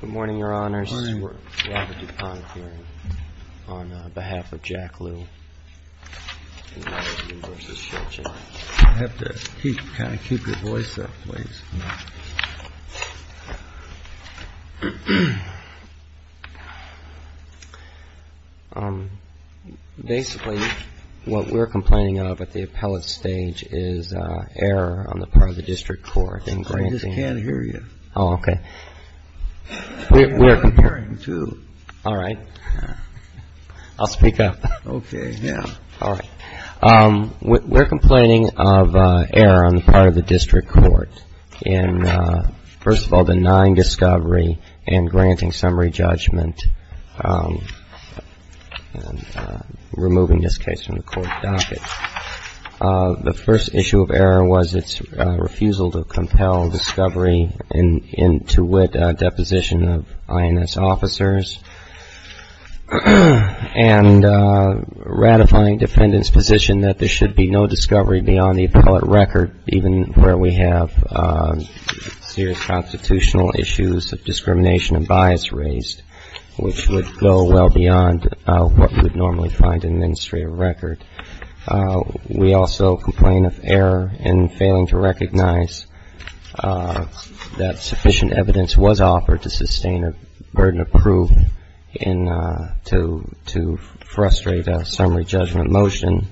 Good morning, Your Honors. We're at the DuPont hearing on behalf of Jack Liu, United Union v. Schiltgen. You have to kind of keep your voice up, please. Basically, what we're complaining of at the appellate stage is error on the part of the district court. I just can't hear you. Oh, okay. I'm hearing you, too. All right. I'll speak up. Okay, yeah. All right. We're complaining of error on the part of the district court in, first of all, denying discovery and granting summary judgment, and removing this case from the court docket. The first issue of error was its refusal to compel discovery into wit deposition of INS officers, and ratifying defendants' position that there should be no discovery beyond the appellate record, even where we have serious constitutional issues of discrimination and bias raised, which would go well beyond what you would normally find in an administrative record. We also complain of error in failing to recognize that sufficient evidence was offered to sustain a burden of proof to frustrate a summary judgment motion,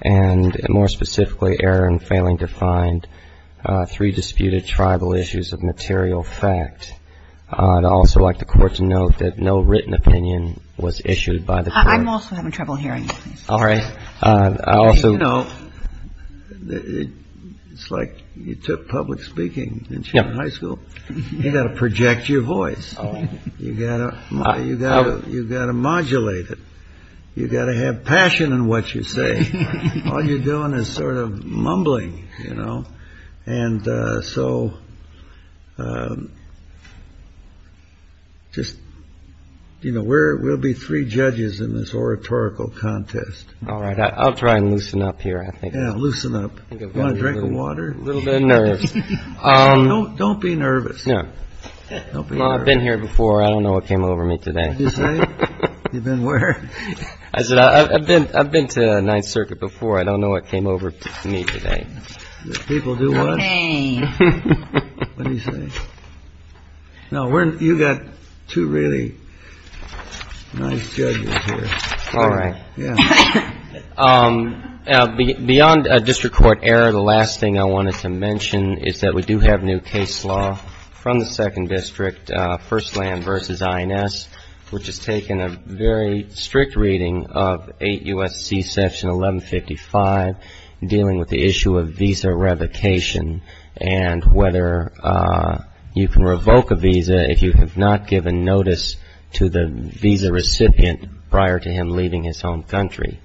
and, more specifically, error in failing to find three disputed tribal issues of material fact. I'd also like the court to note that no written opinion was issued by the court. I'm also having trouble hearing you. All right. I also. You know, it's like you took public speaking in junior high school. You've got to project your voice. You've got to modulate it. You've got to have passion in what you say. All you're doing is sort of mumbling, you know. And so just, you know, we'll be three judges in this oratorical contest. All right. I'll try and loosen up here, I think. Yeah, loosen up. You want a drink of water? A little bit of nerves. Don't be nervous. No. I've been here before. I don't know what came over me today. What did you say? You've been where? I've been to Ninth Circuit before. I don't know what came over me today. People do what? What did you say? No, you've got two really nice judges here. All right. Yeah. Beyond district court error, the last thing I wanted to mention is that we do have new case law from the Second District, First Land v. INS, which has taken a very strict reading of 8 U.S.C. Section 1155 dealing with the issue of visa revocation and whether you can revoke a visa if you have not given notice to the visa recipient prior to him leaving his home country.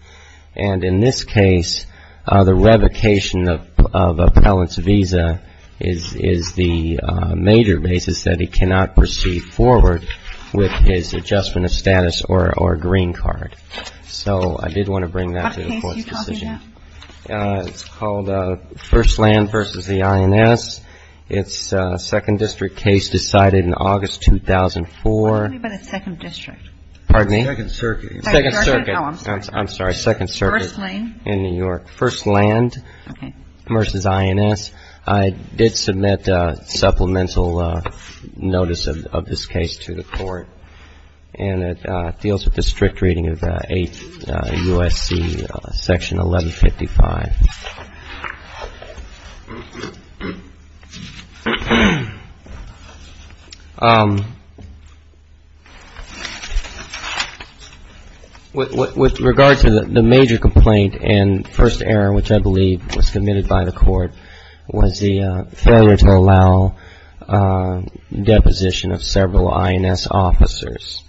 And in this case, the revocation of appellant's visa is the major basis that he cannot proceed forward with his adjustment of status or green card. So I did want to bring that to the Court's decision. What case are you talking about? It's called First Land v. INS. It's a Second District case decided in August 2004. What do you mean by the Second District? Pardon me? Second Circuit. Second Circuit. Oh, I'm sorry. I'm sorry. Second Circuit. First Lane. In New York. First Land v. INS. I did submit supplemental notice of this case to the Court, and it deals with the strict reading of 8 U.S.C. Section 1155. With regard to the major complaint and first error, which I believe was committed by the Court, was the failure to allow deposition of several INS officers.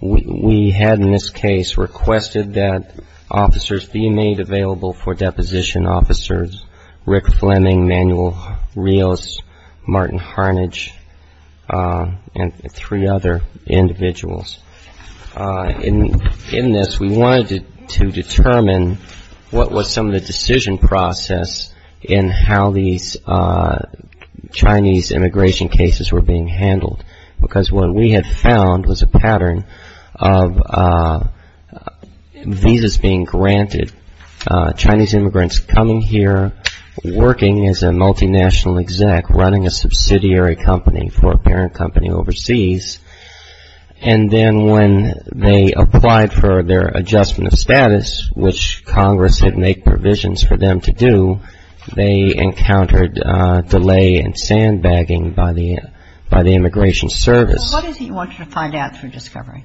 We had in this case requested that officers be made available for deposition, officers Rick Fleming, Manuel Rios, Martin Harnage, and three other individuals. In this, we wanted to determine what was some of the decision process in how these Chinese immigration cases were being handled, because what we had found was a pattern of visas being granted, Chinese immigrants coming here, working as a multinational exec, running a subsidiary company for a parent company overseas, and then when they applied for their adjustment of status, which Congress had made provisions for them to do, they encountered delay and sandbagging by the immigration service. So what is it you wanted to find out through discovery?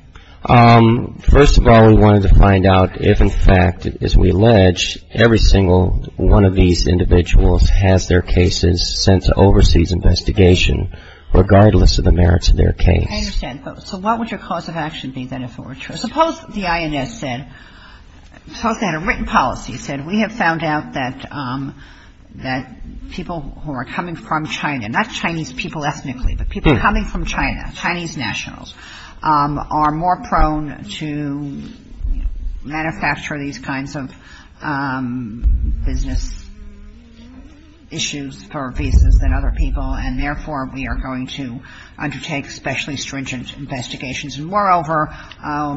First of all, we wanted to find out if, in fact, as we allege, every single one of these individuals has their cases sent to overseas investigation, regardless of the merits of their case. I understand. So what would your cause of action be, then, if it were true? So suppose the INS said, suppose they had a written policy that said, we have found out that people who are coming from China, not Chinese people ethnically, but people coming from China, Chinese nationals, are more prone to manufacture these kinds of business issues for visas than other people, and therefore, we are going to undertake specially stringent investigations. And moreover,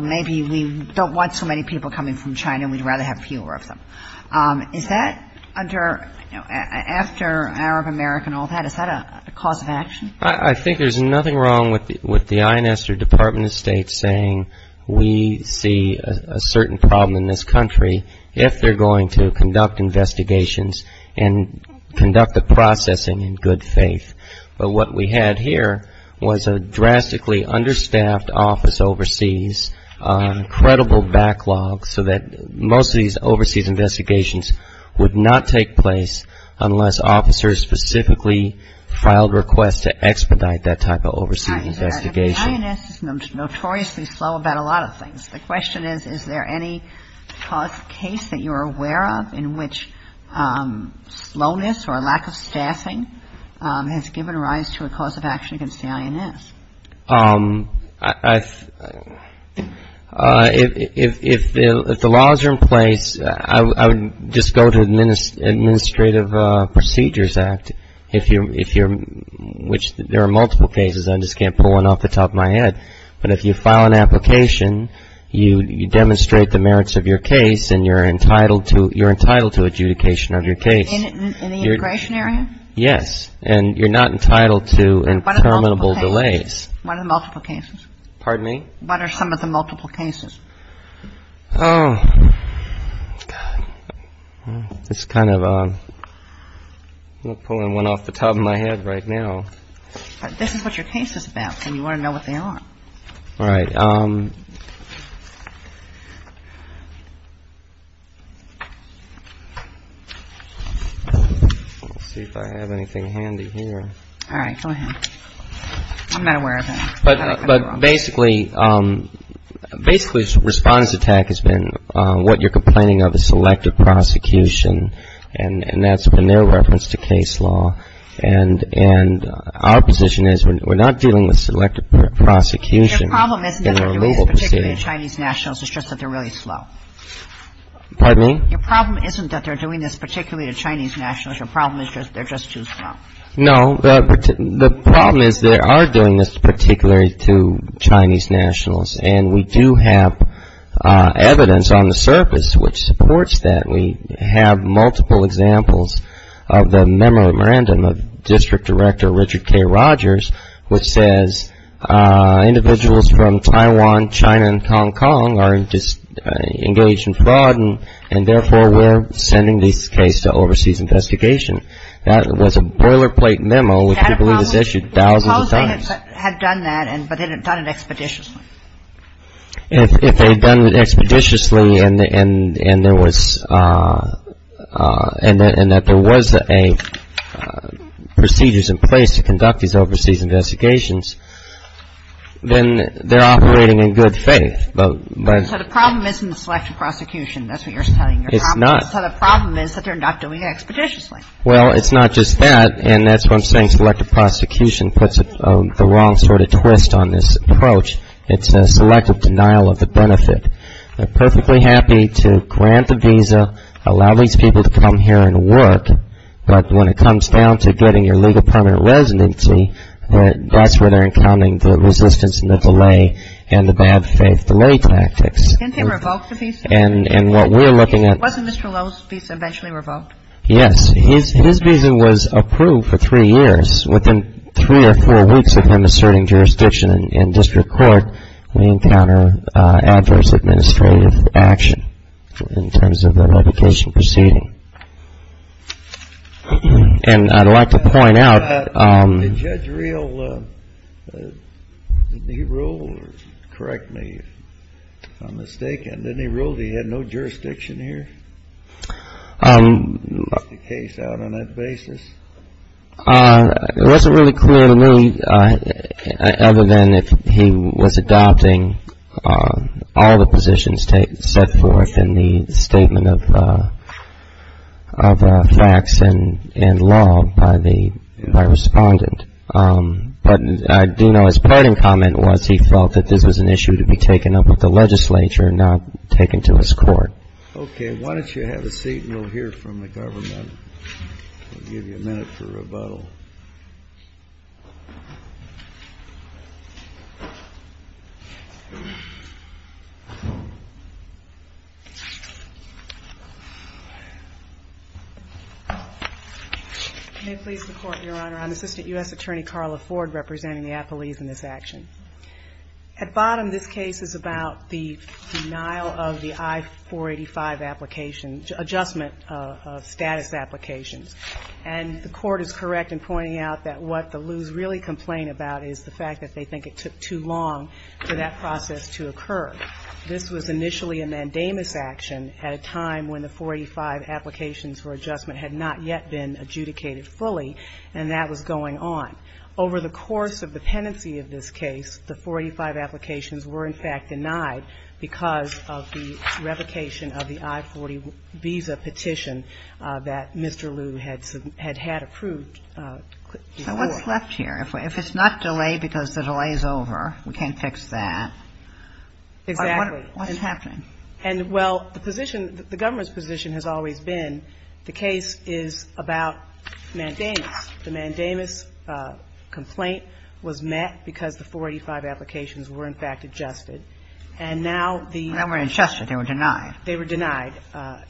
maybe we don't want so many people coming from China and we'd rather have fewer of them. Is that under, after Arab America and all that, is that a cause of action? I think there's nothing wrong with the INS or Department of State saying, we see a certain problem in this country if they're going to conduct investigations and conduct the processing in good faith. But what we had here was a drastically understaffed office overseas, incredible backlog so that most of these overseas investigations would not take place unless officers specifically filed requests to expedite that type of overseas investigation. The INS is notoriously slow about a lot of things. The question is, is there any case that you're aware of in which slowness or lack of staffing has given rise to a cause of action against the INS? If the laws are in place, I would just go to Administrative Procedures Act, which there are multiple cases, I just can't pull one off the top of my head. But if you file an application, you demonstrate the merits of your case and you're entitled to adjudication of your case. In the integration area? Yes. And you're not entitled to interminable delays. What are the multiple cases? Pardon me? What are some of the multiple cases? Oh, God. This is kind of, I'm not pulling one off the top of my head right now. This is what your case is about, and you want to know what they are. All right. Let's see if I have anything handy here. All right. Go ahead. I'm not aware of it. But basically, basically, this response attack has been what you're complaining of is selective prosecution, and that's been their reference to case law. And our position is we're not dealing with selective prosecution. Your problem isn't that they're doing this particularly to Chinese nationals. It's just that they're really slow. Pardon me? Your problem isn't that they're doing this particularly to Chinese nationals. Your problem is they're just too slow. No. The problem is they are doing this particularly to Chinese nationals, and we do have evidence on the surface which supports that. We have multiple examples of the memorandum of District Director Richard K. Rogers, which says individuals from Taiwan, China, and Hong Kong are engaged in fraud, and therefore we're sending this case to overseas investigation. That was a boilerplate memo which we believe was issued thousands of times. Suppose they had done that, but they had done it expeditiously. If they had done it expeditiously and there was a procedures in place to conduct these overseas investigations, then they're operating in good faith. So the problem isn't the selective prosecution. That's what you're telling me. It's not. So the problem is that they're not doing it expeditiously. Well, it's not just that, and that's why I'm saying selective prosecution puts the wrong sort of twist on this approach. It's a selective denial of the benefit. They're perfectly happy to grant the visa, allow these people to come here and work, but when it comes down to getting your legal permanent residency, that's where they're encountering the resistance and the delay and the bad faith delay tactics. Didn't they revoke the visa? And what we're looking at — Wasn't Mr. Lowe's visa eventually revoked? Yes. His visa was approved for three years. Within three or four weeks of him asserting jurisdiction in district court, we encounter adverse administrative action in terms of the revocation proceeding. And I'd like to point out — Did Judge Reel, did he rule, correct me if I'm mistaken, did he rule that he had no jurisdiction here? He brought the case out on that basis. It wasn't really clear to me, other than if he was adopting all the positions set forth in the statement of facts and law by the — by Respondent. But I do know his parting comment was he felt that this was an issue to be taken up with the legislature, not taken to his court. Okay. Why don't you have a seat and we'll hear from the government. We'll give you a minute for rebuttal. May it please the Court, Your Honor. I'm Assistant U.S. Attorney Carla Ford representing the apologies in this action. At bottom, this case is about the denial of the I-485 application — adjustment of status applications. And the Court is correct in pointing out that what the Lews really complain about is the fact that they think it took too long for that process to occur. This was initially a mandamus action at a time when the 485 applications for adjustment had not yet been adjudicated fully, and that was going on. Over the course of the pendency of this case, the 485 applications were, in fact, denied because of the revocation of the I-40 visa petition that Mr. Lew had had approved before. So what's left here? If it's not delayed because the delay is over, we can't fix that. Exactly. What's happening? And, well, the position — the government's position has always been the case is about mandamus. The mandamus complaint was met because the 485 applications were, in fact, adjusted. And now the — They weren't adjusted. They were denied. They were denied,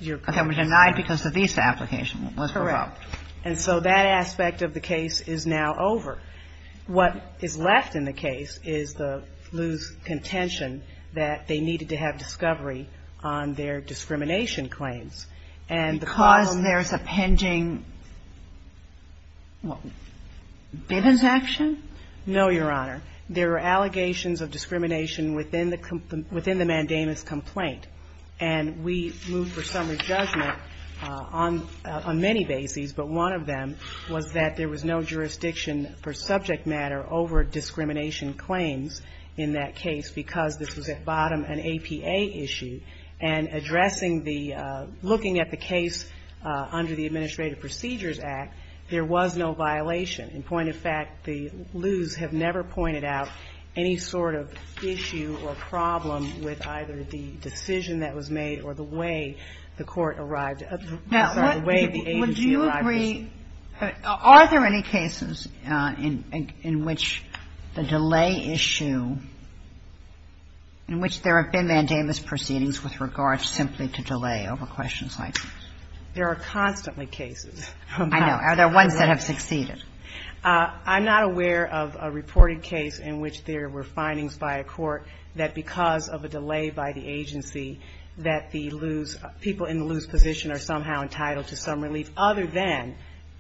Your Honor. They were denied because the visa application was revoked. Correct. And so that aspect of the case is now over. What is left in the case is the Lews' contention that they needed to have discovery on their discrimination claims. Because there's a pending Bivens action? No, Your Honor. There are allegations of discrimination within the mandamus complaint. And we moved for summary judgment on many bases, but one of them was that there was no jurisdiction for subject matter over discrimination claims in that case because this was, at bottom, an APA issue. And addressing the — looking at the case under the Administrative Procedures Act, there was no violation. In point of fact, the Lews have never pointed out any sort of issue or problem with either the decision that was made or the way the court arrived — sorry, the way the agency arrived. Are there any cases in which the delay issue, in which there have been mandamus proceedings with regards simply to delay over questions like this? There are constantly cases. I know. Are there ones that have succeeded? I'm not aware of a reported case in which there were findings by a court that because of a delay by the agency that the Lews — people in the Lews' position are somehow entitled to some relief other than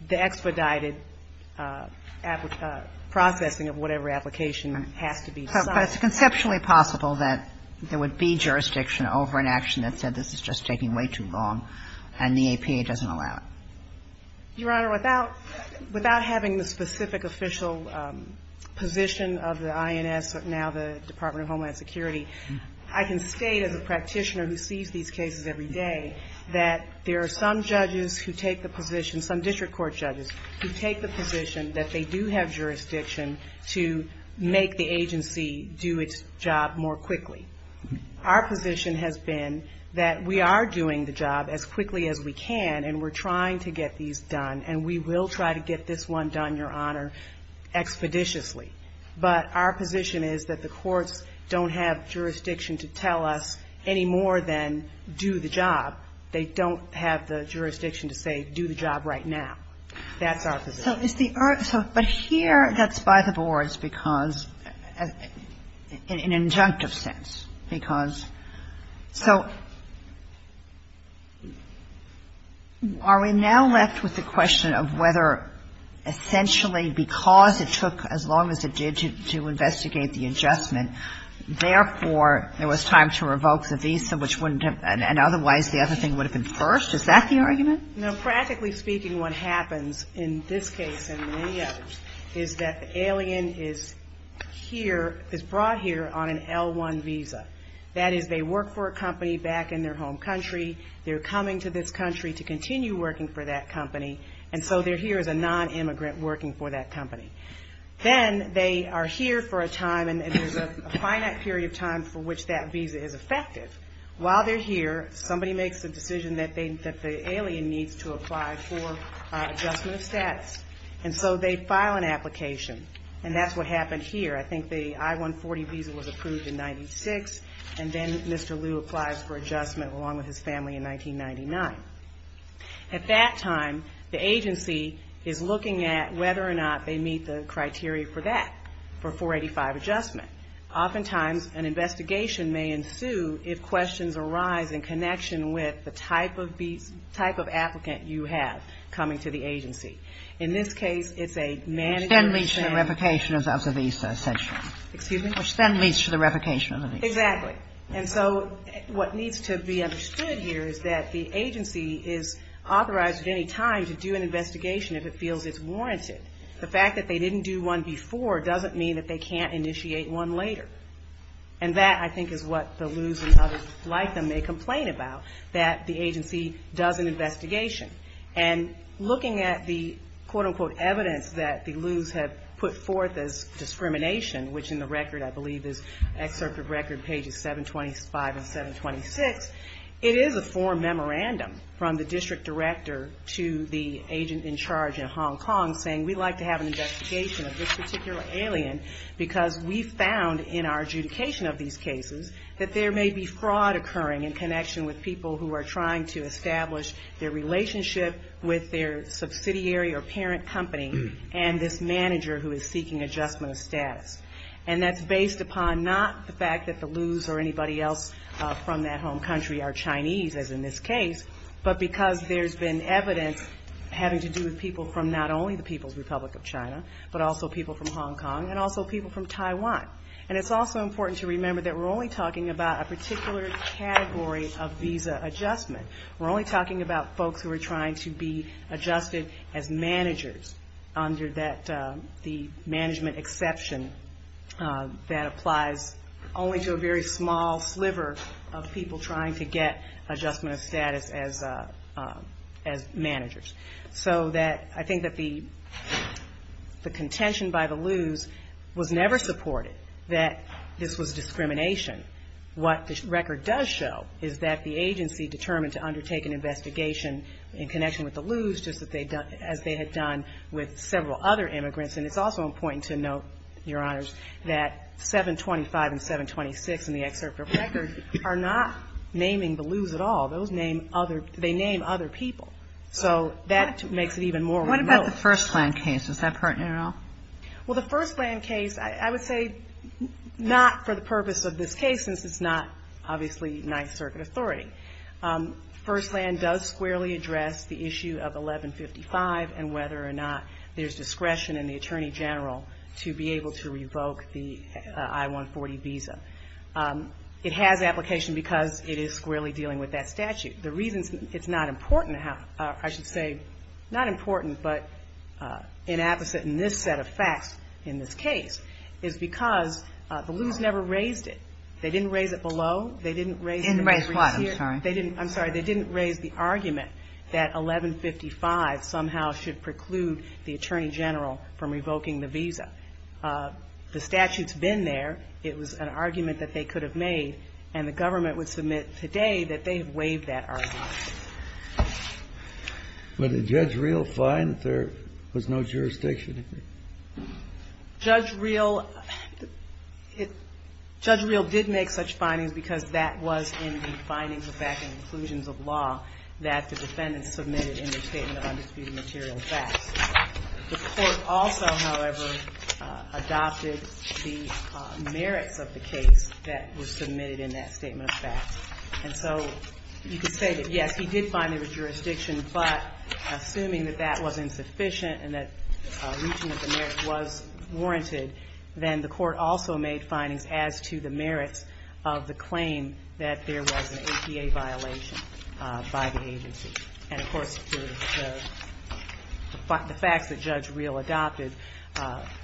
the expedited processing of whatever application has to be signed. But it's conceptually possible that there would be jurisdiction over an action that said this is just taking way too long and the APA doesn't allow it. Your Honor, without having the specific official position of the INS, now the Department of Homeland Security, I can state as a practitioner who sees these cases every day that there are some judges who take the position, some district court judges who take the position that they do have jurisdiction to make the agency do its job more quickly. Our position has been that we are doing the job as quickly as we can and we're trying to get these done, and we will try to get this one done, Your Honor, expeditiously. But our position is that the courts don't have jurisdiction to tell us any more than do the job. They don't have the jurisdiction to say do the job right now. That's our position. But here that's by the boards because, in an injunctive sense, because, so are we now left with the question of whether essentially because it took as long as it did to investigate the adjustment, therefore, there was time to revoke the visa, which wouldn't have been, and otherwise the other thing would have been first? Is that the argument? No, practically speaking what happens in this case and many others is that the alien is here, is brought here on an L1 visa. That is they work for a company back in their home country, they're coming to this country to continue working for that company, and so they're here as a non-immigrant working for that company. Then they are here for a time and there's a finite period of time for which that visa is effective. While they're here, somebody makes the decision that the alien needs to apply for adjustment of status, and so they file an application, and that's what happened here. I think the I-140 visa was approved in 96, and then Mr. Liu applies for adjustment along with his family in 1999. At that time, the agency is looking at whether or not they meet the criteria for that, for 485 adjustment. Oftentimes an investigation may ensue if questions arise in connection with the type of applicant you have coming to the agency. In this case, it's a manager. Which then leads to the revocation of the visa, essentially. Excuse me? Which then leads to the revocation of the visa. Exactly, and so what needs to be understood here is that the agency is authorized at any time to do an investigation if it feels it's warranted. The fact that they didn't do one before doesn't mean that they can't initiate one later. And that, I think, is what the Lius and others like them may complain about, that the agency does an investigation. And looking at the quote-unquote evidence that the Lius have put forth as discrimination, which in the record I believe is excerpt of record pages 725 and 726, it is a form memorandum from the district director to the agent in charge in Hong Kong saying we'd like to have an investigation of this particular alien because we found in our adjudication of these cases that there may be fraud occurring in connection with people who are trying to establish their relationship with their subsidiary or parent company and this manager who is seeking adjustment of status. And that's based upon not the fact that the Lius or anybody else from that home country are Chinese, as in this case, but because there's been evidence having to do with people from not only the People's Republic of China, but also people from Hong Kong, and also people from Taiwan. And it's also important to remember that we're only talking about a particular category of visa adjustment. We're only talking about folks who are trying to be adjusted as managers under the management exception that applies only to a very small sliver of people trying to get adjustment of status as managers. So that I think that the contention by the Lius was never supported that this was discrimination. What the record does show is that the agency determined to undertake an investigation in connection with the Lius just as they had done with several other immigrants and it's also important to note, Your Honors, that 725 and 726 in the excerpt of record are not naming the Lius at all. Those name other, they name other people. So that makes it even more remote. What about the Firstland case? Is that pertinent at all? Well, the Firstland case, I would say not for the purpose of this case since it's not obviously Ninth Circuit authority. Firstland does squarely address the issue of 1155 and whether or not there's discretion in the Attorney General to be able to revoke the I-140 visa. It has application because it is squarely dealing with that statute. The reason it's not important, I should say, not important, but inapposite in this set of facts in this case, is because the Lius never raised it. They didn't raise it below. They didn't raise the argument that 1155 somehow should preclude the Attorney General from revoking the visa. The statute's been there. It was an argument that the Lius should be revoked. It was an argument that they could have made, and the government would submit today that they have waived that argument. But did Judge Reel find that there was no jurisdiction in it? Judge Reel, Judge Reel did make such findings because that was in the findings of fact and inclusions of law that the defendants submitted in their statement of undisputed material facts. The court also, however, adopted the merits of the case that were submitted in that statement of facts. And so you could say that, yes, he did find there was jurisdiction, but assuming that that wasn't sufficient and that reaching the merits was warranted, then the court also made findings as to the merits of the claim that there was an APA violation by the agency. And, of course, the facts that Judge Reel adopted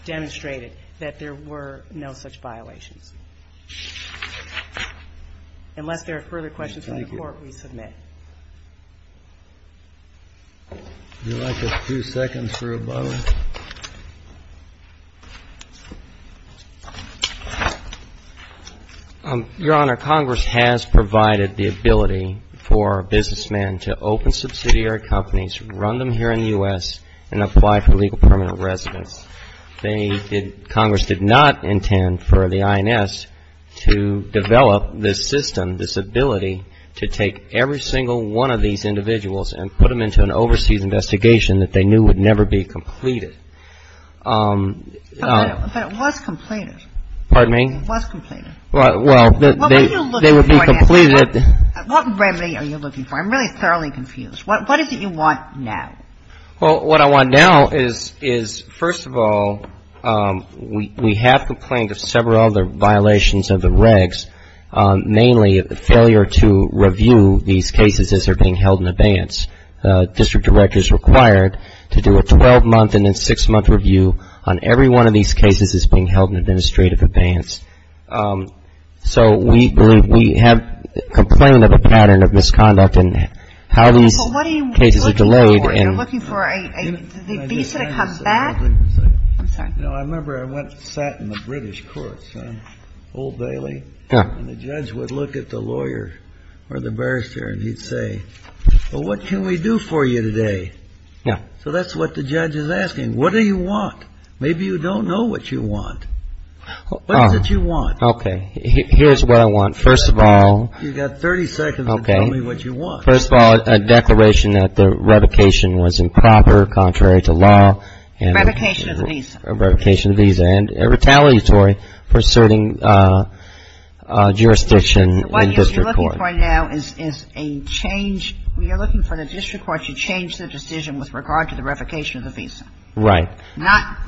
demonstrated that there were no such violations. Unless there are further questions from the Court, we submit. Your Honor, Congress has provided the ability for businessmen to open the case to the public, and we have provided the ability for businessmen to open the case to the public. And we have also provided the ability for government subsidiary companies, run them here in the U.S., and apply for legal permanent residence. They did not, Congress did not intend for the INS to develop this system, this ability to take every single one of these individuals and put them into an overseas investigation that they knew would never be completed. But it was completed. Pardon me? It was completed. Well, they would be completed. What remedy are you looking for? I'm really thoroughly confused. What is it you want now? Well, what I want now is, first of all, we have complained of several other violations of the regs, mainly failure to review these cases as they're being held in abeyance. District directors required to do a 12-month and then 6-month review on every one of these cases that's being held in administrative abeyance. So we have complained of a pattern of misconduct and how these cases are delayed. You're looking for a visa to come back? I remember I went and sat in the British courts, Old Bailey, and the judge would look at the lawyer or the barrister and he'd say, well, what can we do for you today? Yeah. So that's what the judge is asking. What do you want? Maybe you don't know what you want. What is it you want? Okay. Here's what I want. First of all. You've got 30 seconds to tell me what you want. First of all, a declaration that the revocation was improper, contrary to law. Revocation of the visa. Revocation of the visa. And retaliatory for asserting jurisdiction in district court. What you're looking for now is a change. You're looking for the district court to change the decision with regard to the revocation of the visa. Right. Not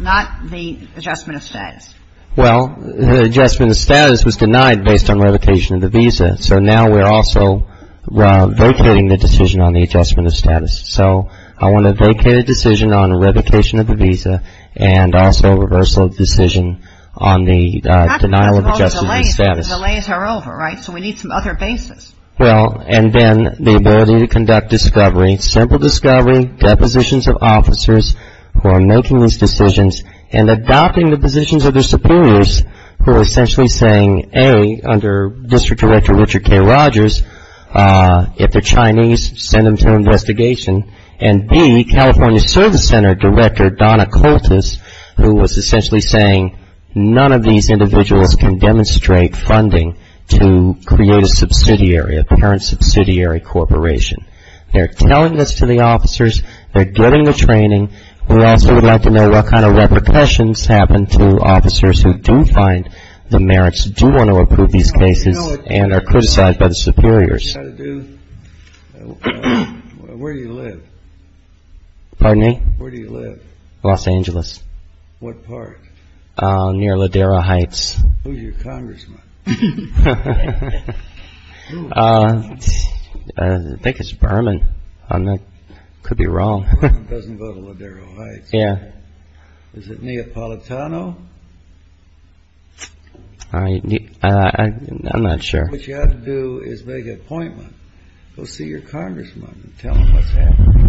the adjustment of status. Well, the adjustment of status was denied based on revocation of the visa. So now we're also vacating the decision on the adjustment of status. So I want to vacate a decision on revocation of the visa and also a reversal of the decision on the denial of adjustment of status. The delays are over, right? So we need some other basis. Well, and then the ability to conduct discovery. Simple discovery. Depositions of officers who are making these decisions and adopting the positions of their superiors who are essentially saying, A, under District Director Richard K. Rogers, if they're Chinese, send them to investigation. And B, California Service Center Director Donna Koltis, who was essentially saying, none of these individuals can demonstrate funding to create a subsidiary, a parent subsidiary corporation. They're telling this to the officers. They're getting the training. We also would like to know what kind of repercussions happen to officers who do find the merits, do want to approve these cases, and are criticized by the superiors. Where do you live? Pardon me? Where do you live? Los Angeles. What part? Near Ladera Heights. Who's your congressman? I think it's Berman. I could be wrong. Berman doesn't go to Ladera Heights. Yeah. Is it Neapolitano? I'm not sure. What you have to do is make an appointment. Go see your congressman and tell him what's happening.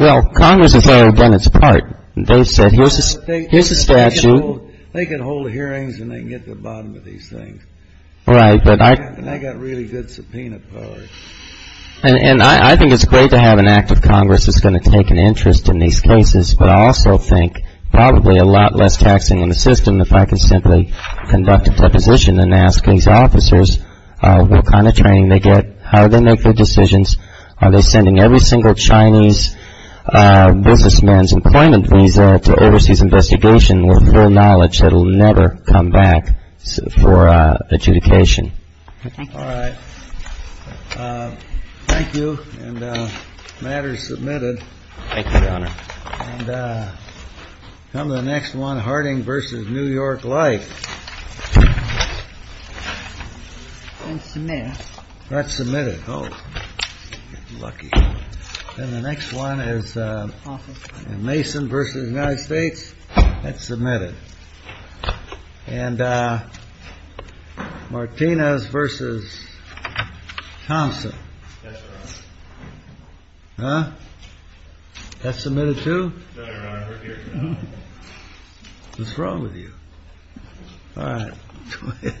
Well, Congress has already done its part. They've said, here's a statute. They can hold hearings and they can get to the bottom of these things. Right. And they've got really good subpoena power. And I think it's great to have an act of Congress that's going to take an interest in these cases, but I also think probably a lot less taxing on the system if I could simply conduct a deposition and ask these officers what kind of training they get, how they make their decisions, are they sending every single Chinese businessman's employment visa to overseas investigation with full knowledge that will never come back for adjudication. All right. Thank you. And the matter is submitted. Thank you, Your Honor. And the next one, Harding v. New York Life. It's been submitted. That's submitted. Oh, lucky. And the next one is Mason v. United States. That's submitted. And Martinez v. Thompson. That's right. Huh? That's submitted too? That's right, Your Honor. What's wrong with you? All right.